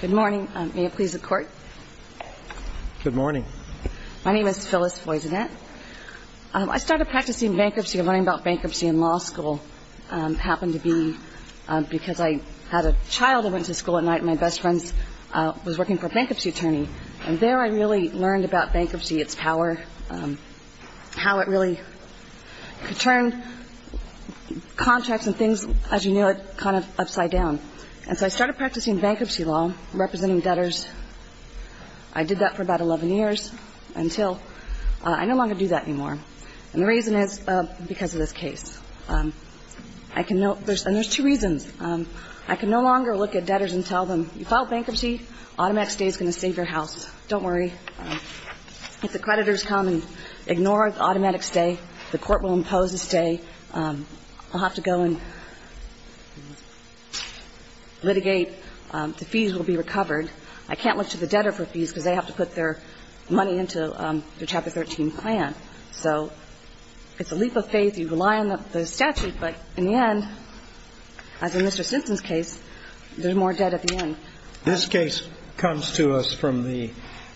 Good morning. May it please the court? Good morning. My name is Phyllis Voyzinet. I started practicing bankruptcy and learning about bankruptcy in law school. It happened to be because I had a child who went to school at night and my best friend was working for a bankruptcy attorney. And there I really learned about bankruptcy, its power, how it really could turn contracts and things, as you know, kind of upside down. And so I started practicing bankruptcy law, representing debtors. I did that for about 11 years until I no longer do that anymore. And the reason is because of this case. And there's two reasons. I can no longer look at debtors and tell them, if you file bankruptcy, automatic stay is going to save your house. Don't worry. If the creditors come and ignore automatic stay, the court will impose a stay. I'll have to go and litigate. The fees will be recovered. I can't look to the debtor for fees because they have to put their money into the Chapter 13 plan. So it's a leap of faith. You rely on the statute. But in the end, as in Mr. Simpson's case, there's more debt at the end. This case comes to us from the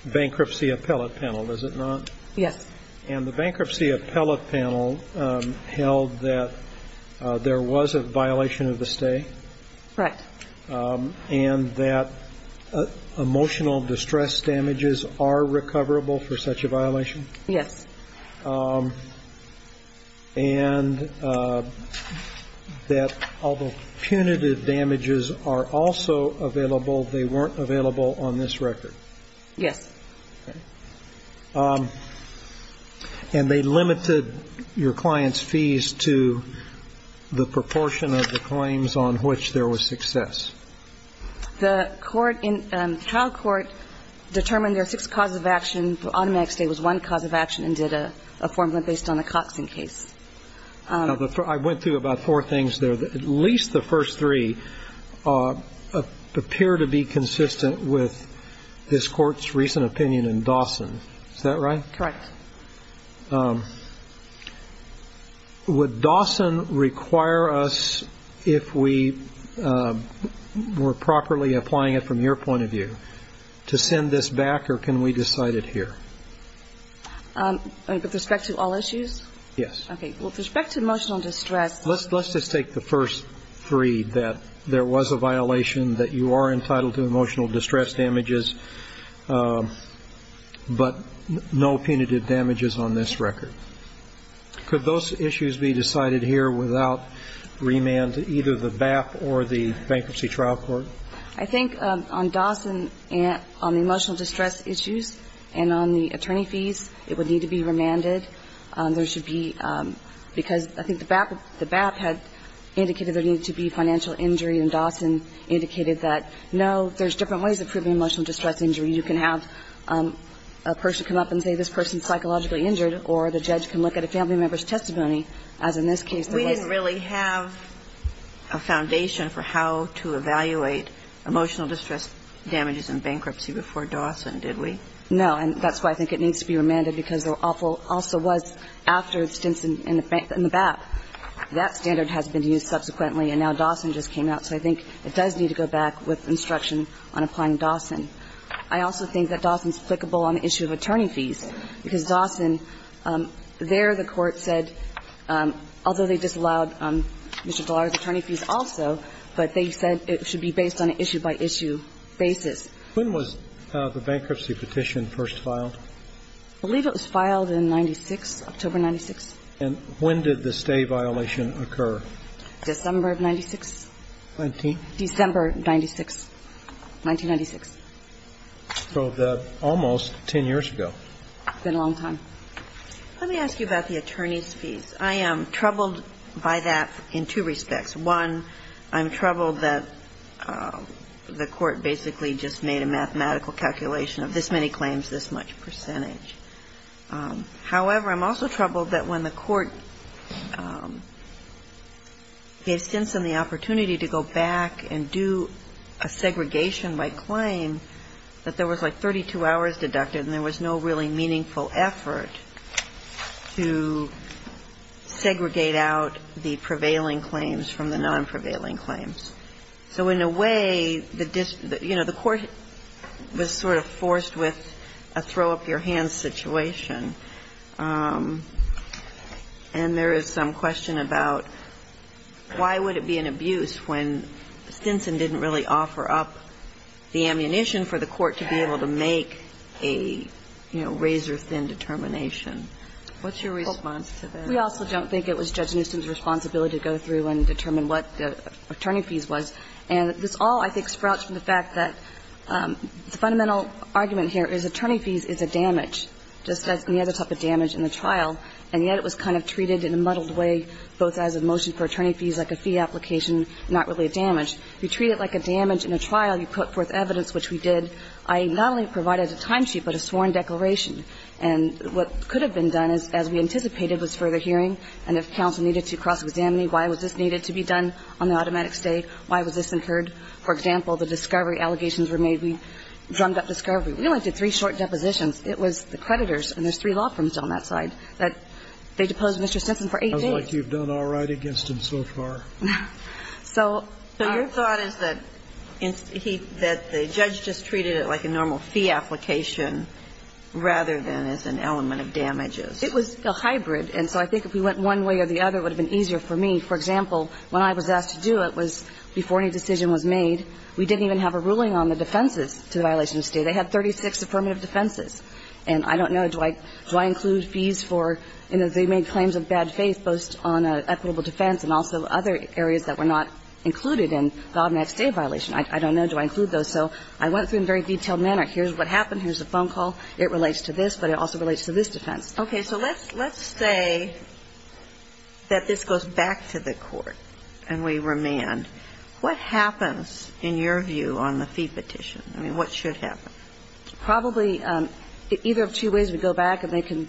bankruptcy appellate panel, does it not? Yes. And the bankruptcy appellate panel held that there was a violation of the stay? Correct. And that emotional distress damages are recoverable for such a violation? Yes. And that although punitive damages are also available, they weren't available on this record? Yes. And they limited your client's fees to the proportion of the claims on which there was success? The court in the trial court determined there are six causes of action. Automatic stay was one cause of action and did a formula based on the Coxing case. Now, I went through about four things there. And I found that at least the first three appear to be consistent with this court's recent opinion in Dawson. Is that right? Correct. Would Dawson require us if we were properly applying it from your point of view to send this back or can we decide it here? With respect to all issues? Yes. Okay. With respect to emotional distress. Let's just take the first three, that there was a violation, that you are entitled to emotional distress damages, but no punitive damages on this record. Could those issues be decided here without remand to either the BAP or the Bankruptcy Trial Court? I think on Dawson, on the emotional distress issues and on the attorney fees, it would need to be remanded. There should be, because I think the BAP had indicated there needed to be financial injury and Dawson indicated that, no, there's different ways of proving emotional distress injury. You can have a person come up and say this person is psychologically injured, or the judge can look at a family member's testimony, as in this case. We didn't really have a foundation for how to evaluate emotional distress damages in bankruptcy before Dawson, did we? No. And that's why I think it needs to be remanded, because there also was, after Stimson and the BAP, that standard has been used subsequently, and now Dawson just came out. So I think it does need to go back with instruction on applying Dawson. I also think that Dawson is applicable on the issue of attorney fees, because Dawson, there the Court said, although they disallowed Mr. Dallara's attorney fees also, but they said it should be based on an issue-by-issue basis. When was the bankruptcy petition first filed? I believe it was filed in 96, October 96. And when did the stay violation occur? December of 96. December 96, 1996. So almost 10 years ago. It's been a long time. Let me ask you about the attorney's fees. I am troubled by that in two respects. One, I'm troubled that the Court basically just made a mathematical calculation of this many claims, this much percentage. However, I'm also troubled that when the Court gave Stimson the opportunity to go back and do a segregation by claim, that there was like 32 hours deducted and there was no really meaningful effort to segregate out the prevailing claims from the non-prevailing claims. So in a way, the court was sort of forced with a throw-up-your-hands situation. And there is some question about why would it be an abuse when Stimson didn't really offer up the ammunition for the Court to be able to make a, you know, razor-thin determination. What's your response to that? We also don't think it was Judge Newsom's responsibility to go through and determine what attorney fees was. And this all, I think, sprouts from the fact that the fundamental argument here is attorney fees is a damage, just as any other type of damage in a trial, and yet it was kind of treated in a muddled way, both as a motion for attorney fees, like a fee application, not really a damage. You treat it like a damage in a trial. You put forth evidence, which we did. I not only provided a timesheet, but a sworn declaration. And what could have been done, as we anticipated, was further hearing. And if counsel needed to cross-examine me, why was this needed to be done on the automatic stay, why was this incurred? For example, the discovery allegations were made. We drummed up discovery. We only did three short depositions. It was the creditors, and there's three law firms on that side, that they deposed Mr. Stimson for eight days. It sounds like you've done all right against him so far. So our thought is that he – that the judge just treated it like a normal fee application rather than as an element of damages. It was a hybrid. And so I think if we went one way or the other, it would have been easier for me. For example, when I was asked to do it was before any decision was made, we didn't even have a ruling on the defenses to the violation of stay. They had 36 affirmative defenses. And I don't know, do I include fees for – you know, they made claims of bad faith both on equitable defense and also other areas that were not included in the automatic stay violation. I don't know, do I include those. So I went through it in a very detailed manner. Here's what happened. Here's the phone call. It relates to this, but it also relates to this defense. Okay. So let's say that this goes back to the Court and we remand. What happens, in your view, on the fee petition? I mean, what should happen? Probably either of two ways. We go back and they can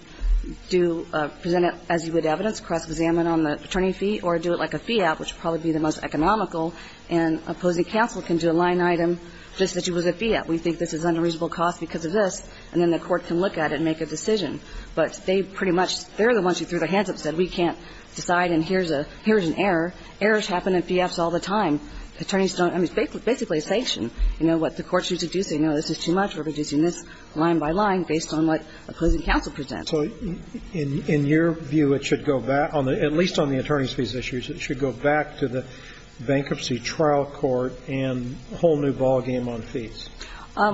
do – present it as you would evidence, cross-examine on the attorney fee, or do it like a fee app, which would probably be the most economical, and opposing counsel can do a line item just as you would a fee app. We think this is an unreasonable cost because of this, and then the Court can look at it and make a decision. But they pretty much – they're the ones who threw their hands up and said we can't decide and here's a – here's an error. Errors happen in fee apps all the time. Attorneys don't – I mean, it's basically a sanction. You know what the Court should deduce? They know this is too much. We're deducing this line by line based on what opposing counsel presents. So in your view, it should go back – at least on the attorney's fees issues, it should go back to the bankruptcy trial court and a whole new ballgame on fees.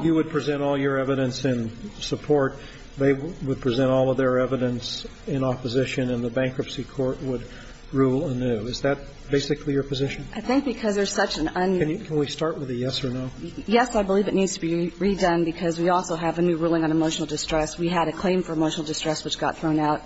You would present all your evidence in support, they would present all of their evidence in opposition, and the bankruptcy court would rule anew. Is that basically your position? I think because there's such an un… Can we start with a yes or no? Yes, I believe it needs to be redone because we also have a new ruling on emotional distress. We had a claim for emotional distress which got thrown out.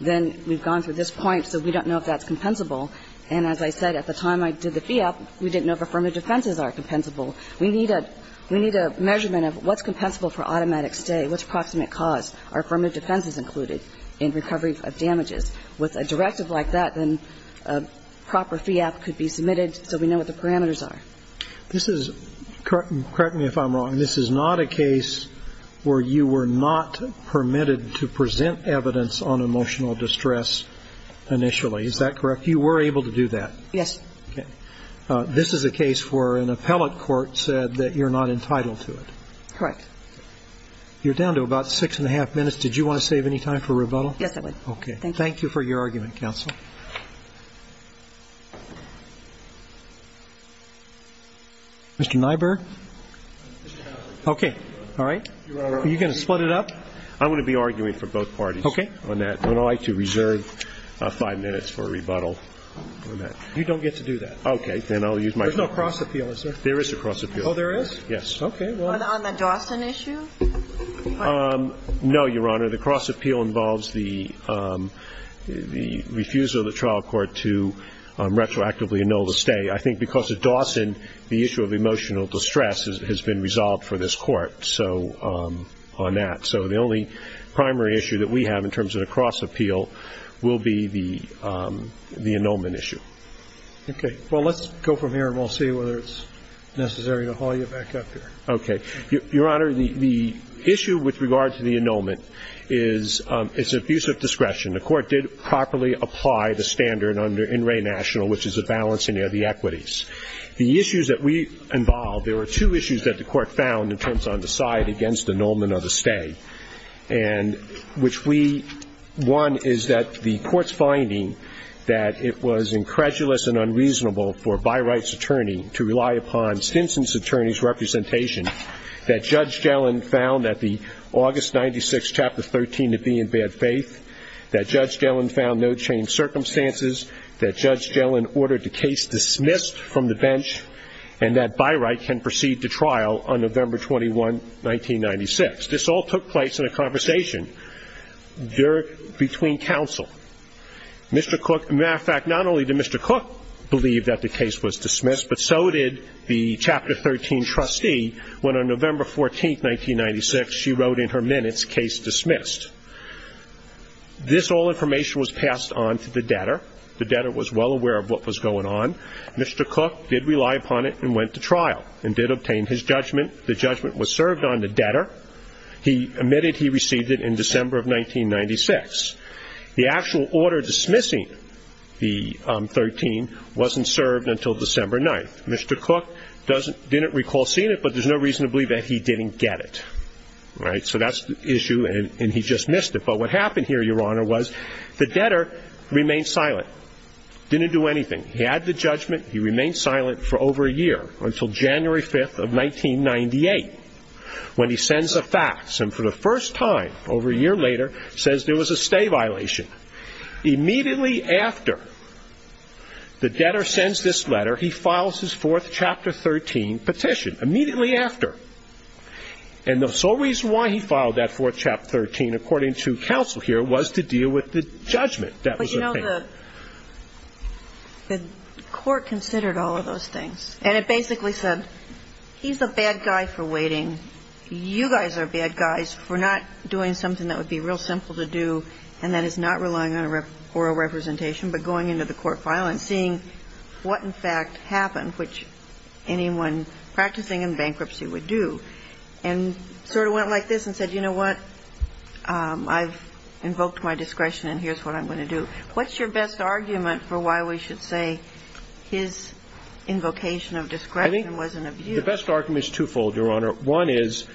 Then we've gone through this point, so we don't know if that's compensable. And as I said, at the time I did the fee app, we didn't know if affirmative defenses are compensable. We need a – we need a measurement of what's compensable for automatic stay, what's approximate cause. Are affirmative defenses included in recovery of damages? With a directive like that, then a proper fee app could be submitted so we know what the parameters are. This is – correct me if I'm wrong – this is not a case where you were not permitted to present evidence on emotional distress initially. Is that correct? You were able to do that? Yes. Okay. This is a case where an appellate court said that you're not entitled to it. Correct. You're down to about six and a half minutes. Did you want to save any time for rebuttal? Yes, I would. Okay. Thank you. Thank you for your argument, counsel. Mr. Nyberg? Okay. All right. Are you going to split it up? I'm going to be arguing for both parties on that. Okay. I would like to reserve five minutes for rebuttal on that. You don't get to do that. Okay. There's no cross appeal, is there? There is a cross appeal. Oh, there is? Yes. Okay. On the Dawson issue? No, Your Honor. The cross appeal involves the refusal of the trial court to retroactively annul the stay. I think because of Dawson, the issue of emotional distress has been resolved for this Court on that. So the only primary issue that we have in terms of a cross appeal will be the annulment issue. Okay. Well, let's go from here and we'll see whether it's necessary to haul you back up here. Okay. Your Honor, the issue with regard to the annulment is it's an abuse of discretion. The Court did properly apply the standard under In Re National, which is a balancing of the equities. The issues that we involved, there were two issues that the Court found in terms of the side against annulment of the stay, and which we won is that the Court's found unreasonable for Byright's attorney to rely upon Stinson's attorney's representation, that Judge Gellin found that the August 96, Chapter 13 to be in bad faith, that Judge Gellin found no changed circumstances, that Judge Gellin ordered the case dismissed from the bench, and that Byright can proceed to trial on November 21, 1996. This all took place in a conversation between counsel. Mr. Cooke, as a matter of fact, not only did Mr. Cooke believe that the case was dismissed, but so did the Chapter 13 trustee, when on November 14, 1996, she wrote in her minutes, case dismissed. This all information was passed on to the debtor. The debtor was well aware of what was going on. Mr. Cooke did rely upon it and went to trial and did obtain his judgment. The judgment was served on the debtor. He admitted he received it in December of 1996. The actual order dismissing the 13 wasn't served until December 9. Mr. Cooke didn't recall seeing it, but there's no reason to believe that he didn't get it. Right? So that's the issue, and he just missed it. But what happened here, Your Honor, was the debtor remained silent, didn't do anything. He had the judgment. He remained silent for over a year, until January 5, 1998, when he sends a fax and for the first time, over a year later, says there was a stay violation. Immediately after the debtor sends this letter, he files his fourth Chapter 13 petition. Immediately after. And the sole reason why he filed that fourth Chapter 13, according to counsel here, was to deal with the judgment that was obtained. But, you know, the court considered all of those things, and it basically said, he's a bad guy for waiting. You guys are bad guys for not doing something that would be real simple to do, and that is not relying on oral representation, but going into the court file and seeing what, in fact, happened, which anyone practicing in bankruptcy would do. And sort of went like this and said, you know what, I've invoked my discretion and here's what I'm going to do. What's your best argument for why we should say his invocation of discretion was an abuse? The best argument is twofold, Your Honor. One is,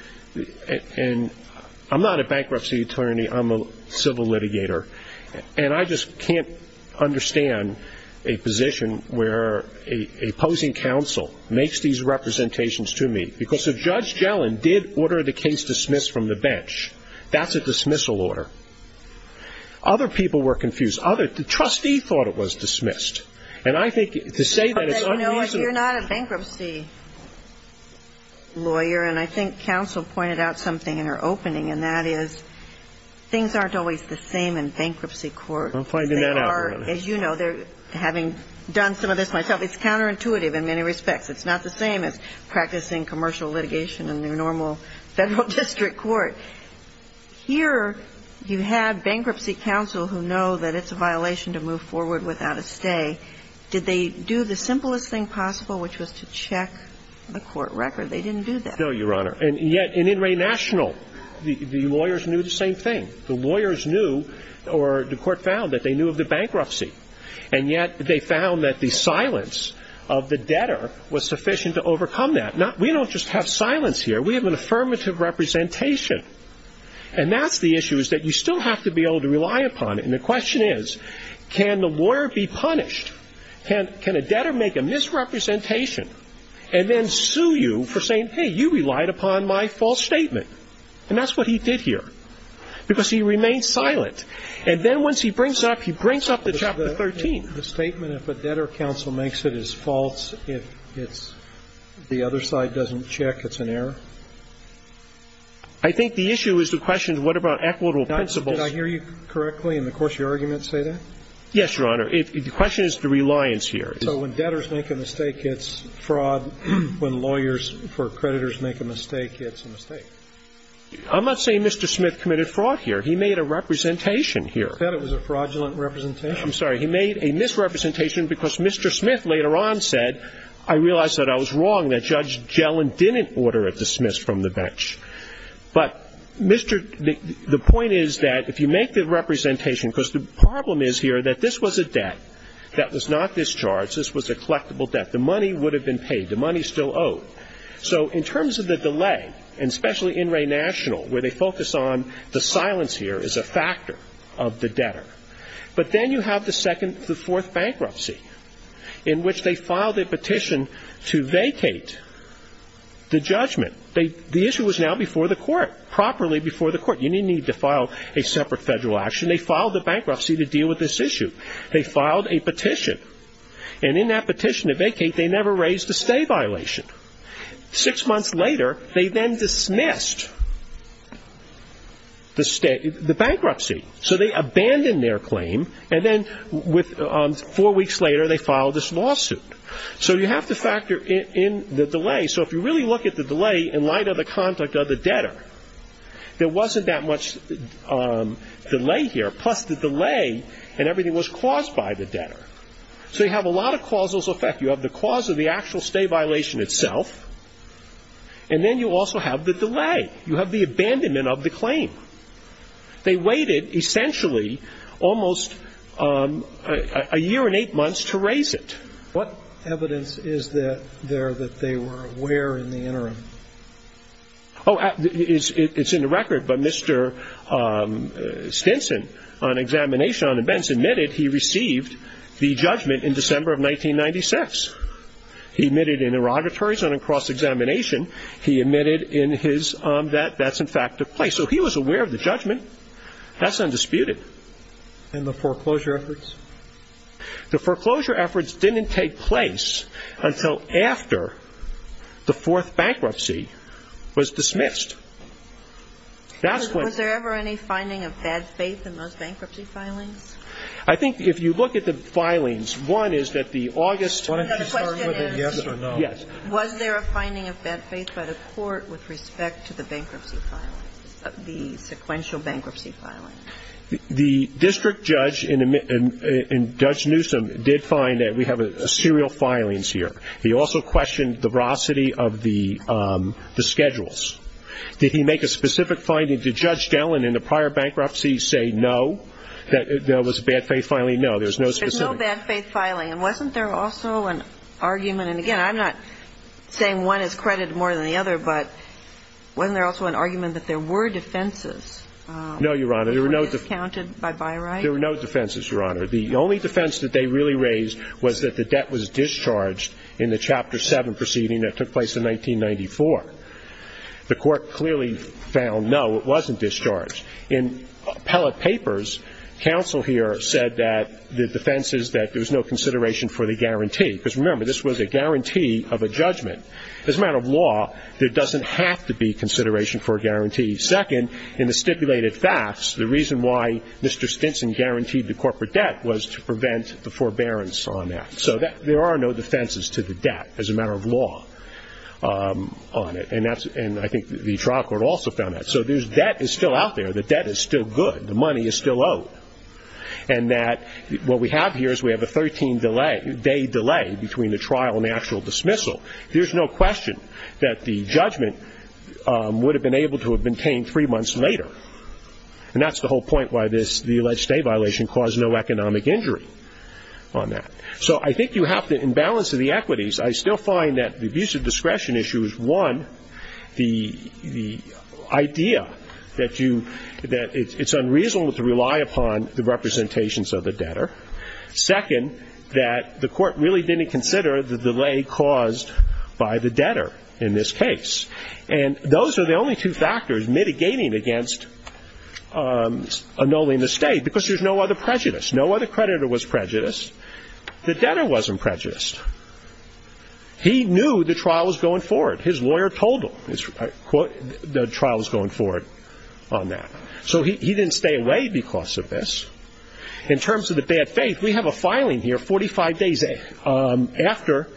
and I'm not a bankruptcy attorney, I'm a civil litigator, and I just can't understand a position where a opposing counsel makes these representations to me. Because if Judge Gellin did order the case dismissed from the bench, that's a dismissal order. Other people were confused. The trustee thought it was dismissed. And I think to say that is unreasonable. You're not a bankruptcy lawyer, and I think counsel pointed out something in her opening, and that is things aren't always the same in bankruptcy court. I'm finding that out. As you know, having done some of this myself, it's counterintuitive in many respects. It's not the same as practicing commercial litigation in your normal federal district court. Here you have bankruptcy counsel who know that it's a violation to move forward without a stay. Did they do the simplest thing possible, which was to check the court record? They didn't do that. No, Your Honor. And yet in In re National, the lawyers knew the same thing. The lawyers knew, or the court found, that they knew of the bankruptcy. And yet they found that the silence of the debtor was sufficient to overcome that. We don't just have silence here. We have an affirmative representation. And that's the issue, is that you still have to be able to rely upon it. And the question is, can the lawyer be punished? Can a debtor make a misrepresentation and then sue you for saying, hey, you relied upon my false statement? And that's what he did here, because he remained silent. And then once he brings up, he brings up the Chapter 13. The statement, if a debtor counsel makes it, is false. If it's the other side doesn't check, it's an error? I think the issue is the question, what about equitable principles? Did I hear you correctly in the course of your argument say that? Yes, Your Honor. The question is the reliance here. So when debtors make a mistake, it's fraud. When lawyers for creditors make a mistake, it's a mistake. I'm not saying Mr. Smith committed fraud here. He made a representation here. I thought it was a fraudulent representation. I'm sorry. He made a misrepresentation because Mr. Smith later on said, I realize that I was wrong, that Judge Gellin didn't order it dismissed from the bench. But Mr. the point is that if you make the representation, because the problem is here that this was a debt that was not discharged. This was a collectible debt. The money would have been paid. The money is still owed. So in terms of the delay, and especially in Ray National, where they focus on the silence here is a factor of the debtor. But then you have the second to the fourth bankruptcy in which they filed a petition to vacate the judgment. The issue was now before the court, properly before the court. You didn't need to file a separate federal action. They filed a bankruptcy to deal with this issue. They filed a petition. And in that petition to vacate, they never raised a stay violation. Six months later, they then dismissed the bankruptcy. So they abandoned their claim. And then four weeks later, they filed this lawsuit. So you have to factor in the delay. So if you really look at the delay in light of the conduct of the debtor, there wasn't that much delay here. Plus the delay in everything was caused by the debtor. So you have a lot of causal effect. You have the cause of the actual stay violation itself. And then you also have the delay. You have the abandonment of the claim. They waited essentially almost a year and eight months to raise it. What evidence is there that they were aware in the interim? Oh, it's in the record. But Mr. Stinson, on examination on events, admitted he received the judgment in December of 1996. He admitted in interrogatories and in cross-examination, he admitted in his that that's, in fact, the case. So he was aware of the judgment. That's undisputed. And the foreclosure efforts? The foreclosure efforts didn't take place until after the fourth bankruptcy was dismissed. Was there ever any finding of bad faith in those bankruptcy filings? I think if you look at the filings, one is that the August question is yes. Was there a finding of bad faith by the court with respect to the bankruptcy filings, the sequential bankruptcy filings? The district judge in Judge Newsom did find that we have serial filings here. He also questioned the veracity of the schedules. Did he make a specific finding? Did Judge Dellin in the prior bankruptcy say no, that there was a bad faith filing? No, there's no specific. There's no bad faith filing. And wasn't there also an argument? And, again, I'm not saying one is credited more than the other, but wasn't there also an argument that there were defenses? No, Your Honor. Were they discounted by byright? There were no defenses, Your Honor. The only defense that they really raised was that the debt was discharged in the Chapter 7 proceeding that took place in 1994. The court clearly found no, it wasn't discharged. In appellate papers, counsel here said that the defense is that there was no consideration for the guarantee. Because, remember, this was a guarantee of a judgment. As a matter of law, there doesn't have to be consideration for a guarantee. Second, in the stipulated facts, the reason why Mr. Stinson guaranteed the corporate debt was to prevent the forbearance on that. So there are no defenses to the debt as a matter of law on it. And I think the trial court also found that. So debt is still out there. The debt is still good. The money is still owed. And that what we have here is we have a 13-day delay between the trial and the actual dismissal. There's no question that the judgment would have been able to have been obtained three months later. And that's the whole point why this, the alleged state violation caused no economic injury on that. So I think you have to, in balance of the equities, I still find that the abuse of discretion issue is, one, the idea that you, that it's unreasonable to rely upon the representations of the debtor. Second, that the court really didn't consider the delay caused by the debtor in this case. And those are the only two factors mitigating against annulling the state because there's no other prejudice. No other creditor was prejudiced. The debtor wasn't prejudiced. He knew the trial was going forward. His lawyer told him the trial was going forward on that. So he didn't stay away because of this. In terms of the bad faith, we have a filing here 45 days after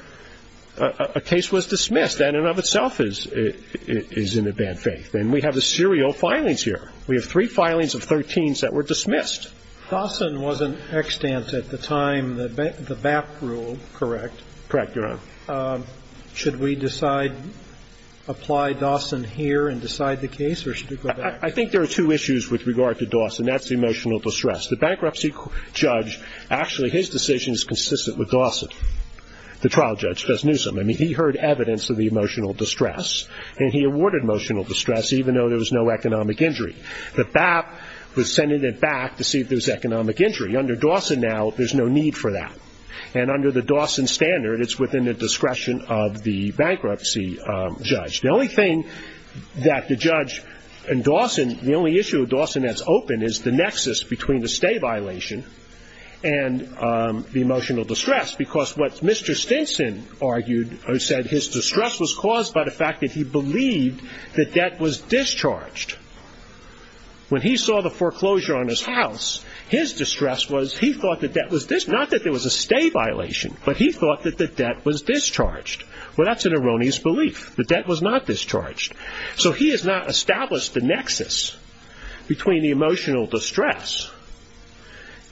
a case was dismissed. That in and of itself is in the bad faith. And we have the serial filings here. We have three filings of 13s that were dismissed. Dawson wasn't extant at the time. The BAP rule, correct? Correct, Your Honor. Should we decide, apply Dawson here and decide the case or should we go back? I think there are two issues with regard to Dawson. That's the emotional distress. The bankruptcy judge, actually his decision is consistent with Dawson. The trial judge just knew something. He heard evidence of the emotional distress. And he awarded emotional distress even though there was no economic injury. The BAP was sending it back to see if there was economic injury. Under Dawson now, there's no need for that. And under the Dawson standard, it's within the discretion of the bankruptcy judge. The only thing that the judge in Dawson, the only issue with Dawson that's open, is the nexus between the stay violation and the emotional distress because what Mr. Stinson argued or said, his distress was caused by the fact that he believed the debt was discharged. When he saw the foreclosure on his house, his distress was he thought the debt was discharged. Not that there was a stay violation, but he thought that the debt was discharged. Well, that's an erroneous belief. The debt was not discharged. So he has not established the nexus between the emotional distress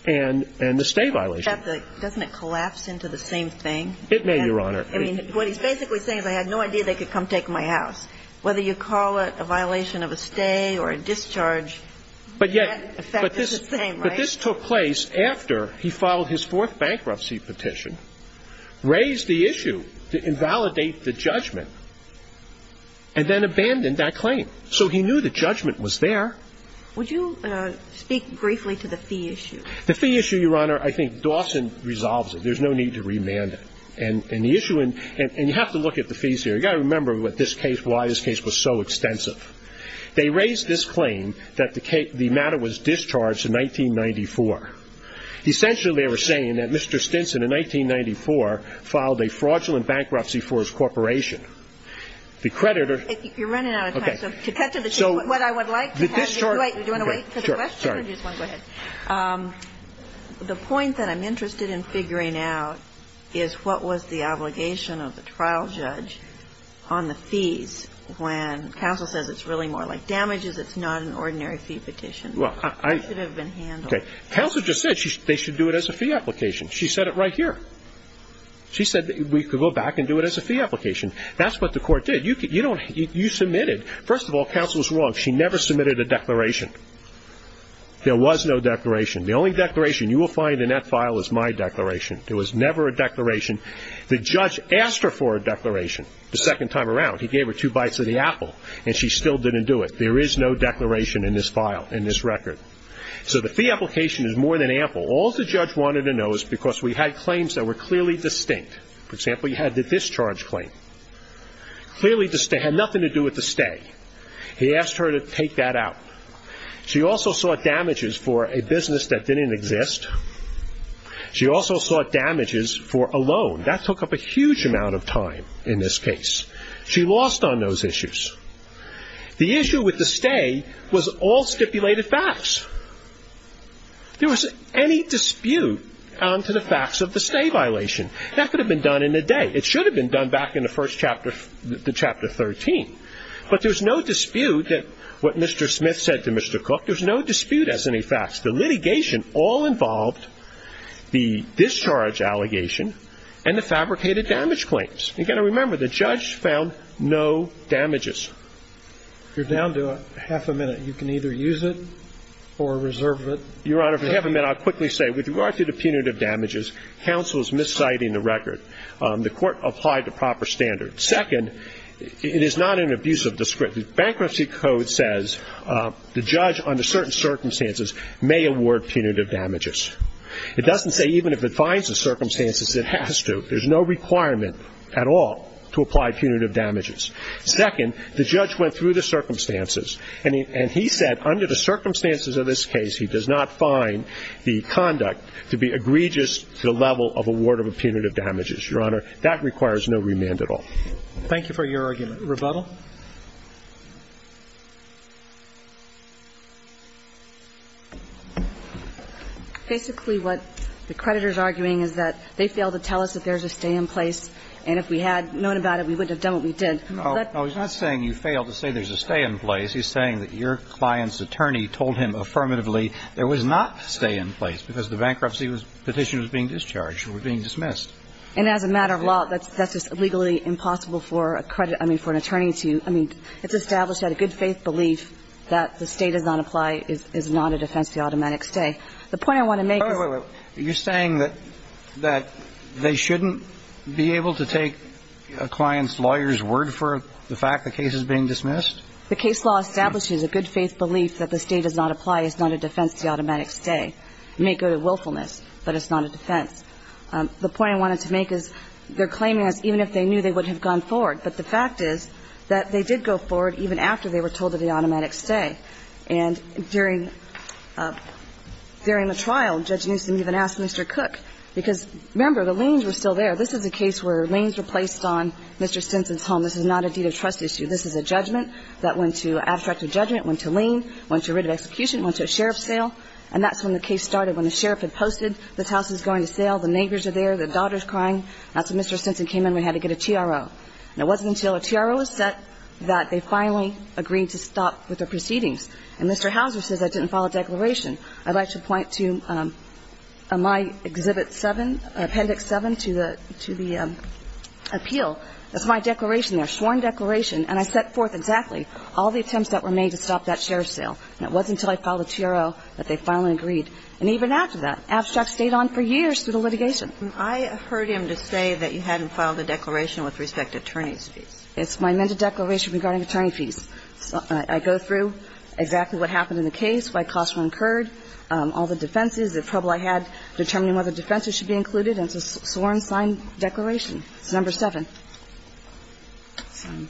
and the stay violation. Doesn't it collapse into the same thing? It may, Your Honor. What he's basically saying is I had no idea they could come take my house. Whether you call it a violation of a stay or a discharge, the effect is the same, right? But this took place after he filed his fourth bankruptcy petition, raised the issue to invalidate the judgment, and then abandoned that claim. So he knew the judgment was there. Would you speak briefly to the fee issue? The fee issue, Your Honor, I think Dawson resolves it. There's no need to remand it. And you have to look at the fees here. You've got to remember why this case was so extensive. They raised this claim that the matter was discharged in 1994. Essentially, they were saying that Mr. Stinson, in 1994, filed a fraudulent bankruptcy for his corporation. The creditor ---- You're running out of time. Okay. To cut to the chase, what I would like to have you do, do you want to wait for the question? Sure. Or do you just want to go ahead? The point that I'm interested in figuring out is what was the obligation of the trial judge on the fees when counsel says it's really more like damages, it's not an ordinary fee petition. Well, I ---- It should have been handled. Okay. Counsel just said they should do it as a fee application. She said it right here. She said we could go back and do it as a fee application. That's what the court did. You submitted ---- First of all, counsel was wrong. She never submitted a declaration. There was no declaration. The only declaration you will find in that file is my declaration. There was never a declaration. The judge asked her for a declaration the second time around. He gave her two bites of the apple, and she still didn't do it. There is no declaration in this file, in this record. So the fee application is more than ample. All the judge wanted to know is because we had claims that were clearly distinct. For example, you had the discharge claim. Clearly, it had nothing to do with the stay. He asked her to take that out. She also sought damages for a business that didn't exist. She also sought damages for a loan. That took up a huge amount of time in this case. She lost on those issues. The issue with the stay was all stipulated facts. There was any dispute on to the facts of the stay violation. That could have been done in a day. It should have been done back in the first chapter, the chapter 13. But there's no dispute that what Mr. Smith said to Mr. Cook, there's no dispute as any facts. The litigation all involved the discharge allegation and the fabricated damage claims. Again, remember, the judge found no damages. If you're down to half a minute, you can either use it or reserve it. Your Honor, if you have a minute, I'll quickly say, with regard to the punitive damages, counsel is misciting the record. The Court applied the proper standard. Second, it is not an abuse of discretion. Bankruptcy Code says the judge under certain circumstances may award punitive damages. It doesn't say even if it finds the circumstances, it has to. There's no requirement at all to apply punitive damages. Second, the judge went through the circumstances, and he said under the circumstances of this case, he does not find the conduct to be egregious to the level of award of punitive damages. Your Honor, that requires no remand at all. Thank you for your argument. Rebuttal. Basically, what the creditor's arguing is that they failed to tell us that there's a stay in place, and if we had known about it, we wouldn't have done what we did. No. No, he's not saying you failed to say there's a stay in place. He's saying that your client's attorney told him affirmatively there was not a stay in place because the bankruptcy petition was being discharged, you were being dismissed. And as a matter of law, that's just legally impossible for a credit – I mean, for an attorney to – I mean, it's established that a good-faith belief that the State does not apply is not a defense to automatic stay. The point I want to make is – Oh, wait, wait, wait. You're saying that they shouldn't be able to take a client's lawyer's word for the fact the case is being dismissed? The case law establishes a good-faith belief that the State does not apply is not a defense to automatic stay. It may go to willfulness, but it's not a defense. The point I wanted to make is they're claiming that even if they knew, they would have gone forward. But the fact is that they did go forward even after they were told of the automatic stay. And during the trial, Judge Newsom even asked Mr. Cook – because, remember, the liens were still there. This is a case where liens were placed on Mr. Stinson's home. This is not a deed of trust issue. This is a judgment that went to abstracted judgment, went to lien, went to writ of execution, went to a sheriff's sale. And that's when the case started, when the sheriff had posted this house is going to sale, the neighbors are there, the daughter's crying. That's when Mr. Stinson came in. We had to get a TRO. And it wasn't until a TRO was set that they finally agreed to stop with the proceedings. And Mr. Houser says I didn't file a declaration. I'd like to point to my Exhibit 7, Appendix 7, to the appeal. That's my declaration there, sworn declaration. And I set forth exactly all the attempts that were made to stop that sheriff's sale. And it wasn't until I filed a TRO that they finally agreed. And even after that, abstract stayed on for years through the litigation. And I heard him to say that you hadn't filed a declaration with respect to attorney's fees. It's my amended declaration regarding attorney fees. I go through exactly what happened in the case, why costs were incurred, all the defenses, the trouble I had determining whether defenses should be included, and it's a sworn signed declaration. It's number 7. And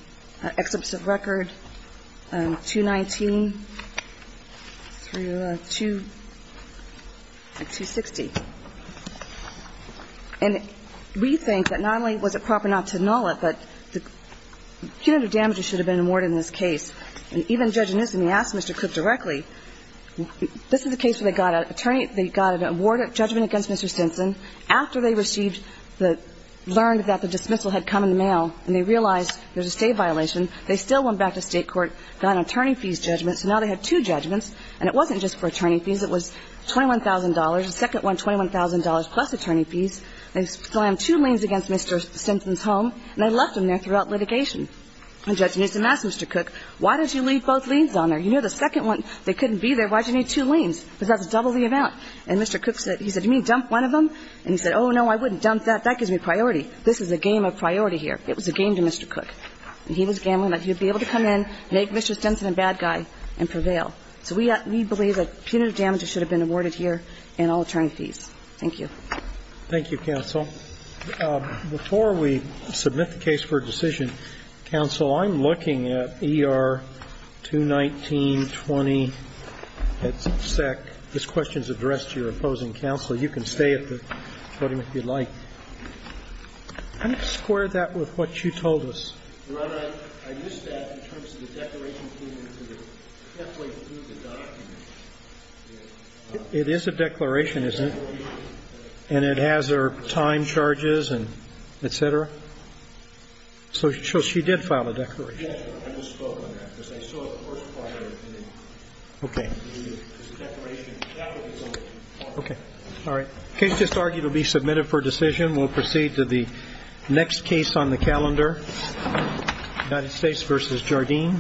we think that not only was it proper not to null it, but the punitive damages should have been awarded in this case. And even Judge Newsom, he asked Mr. Cook directly, this is a case where they got an attorney, they got an award of judgment against Mr. Stinson after they received the ‑‑ learned that the dismissal had come in the mail, and they received And Mr. Cook said, well, I don't know. They realized there's a state violation. They still went back to state court, got an attorney fees judgment. So now they had two judgments, and it wasn't just for attorney fees. It was $21,000. The second one, $21,000 plus attorney fees. They slammed two liens against Mr. Stinson's home, and they left him there throughout litigation. And Judge Newsom asked Mr. Cook, why did you leave both liens on there? You know, the second one, they couldn't be there. Why did you need two liens? Because that's double the amount. And Mr. Cook said, he said, you mean dump one of them? And he said, oh, no, I wouldn't dump that. That gives me priority. This is a game of priority here. It was a game to Mr. Cook. And he was gambling that he would be able to come in, make Mr. Stinson a bad guy and prevail. So we believe that punitive damages should have been awarded here and all attorney fees. Thank you. Roberts. Thank you, counsel. Before we submit the case for decision, counsel, I'm looking at ER 21920 at SEC. This question is addressed to your opposing counsel. You can stay at the podium if you'd like. I'm going to square that with what you told us. It is a declaration, isn't it? And it has her time charges and et cetera. So she did file a declaration. OK. All right. Case just argued will be submitted for decision. We'll proceed to the next case on the calendar, United States versus Jardim.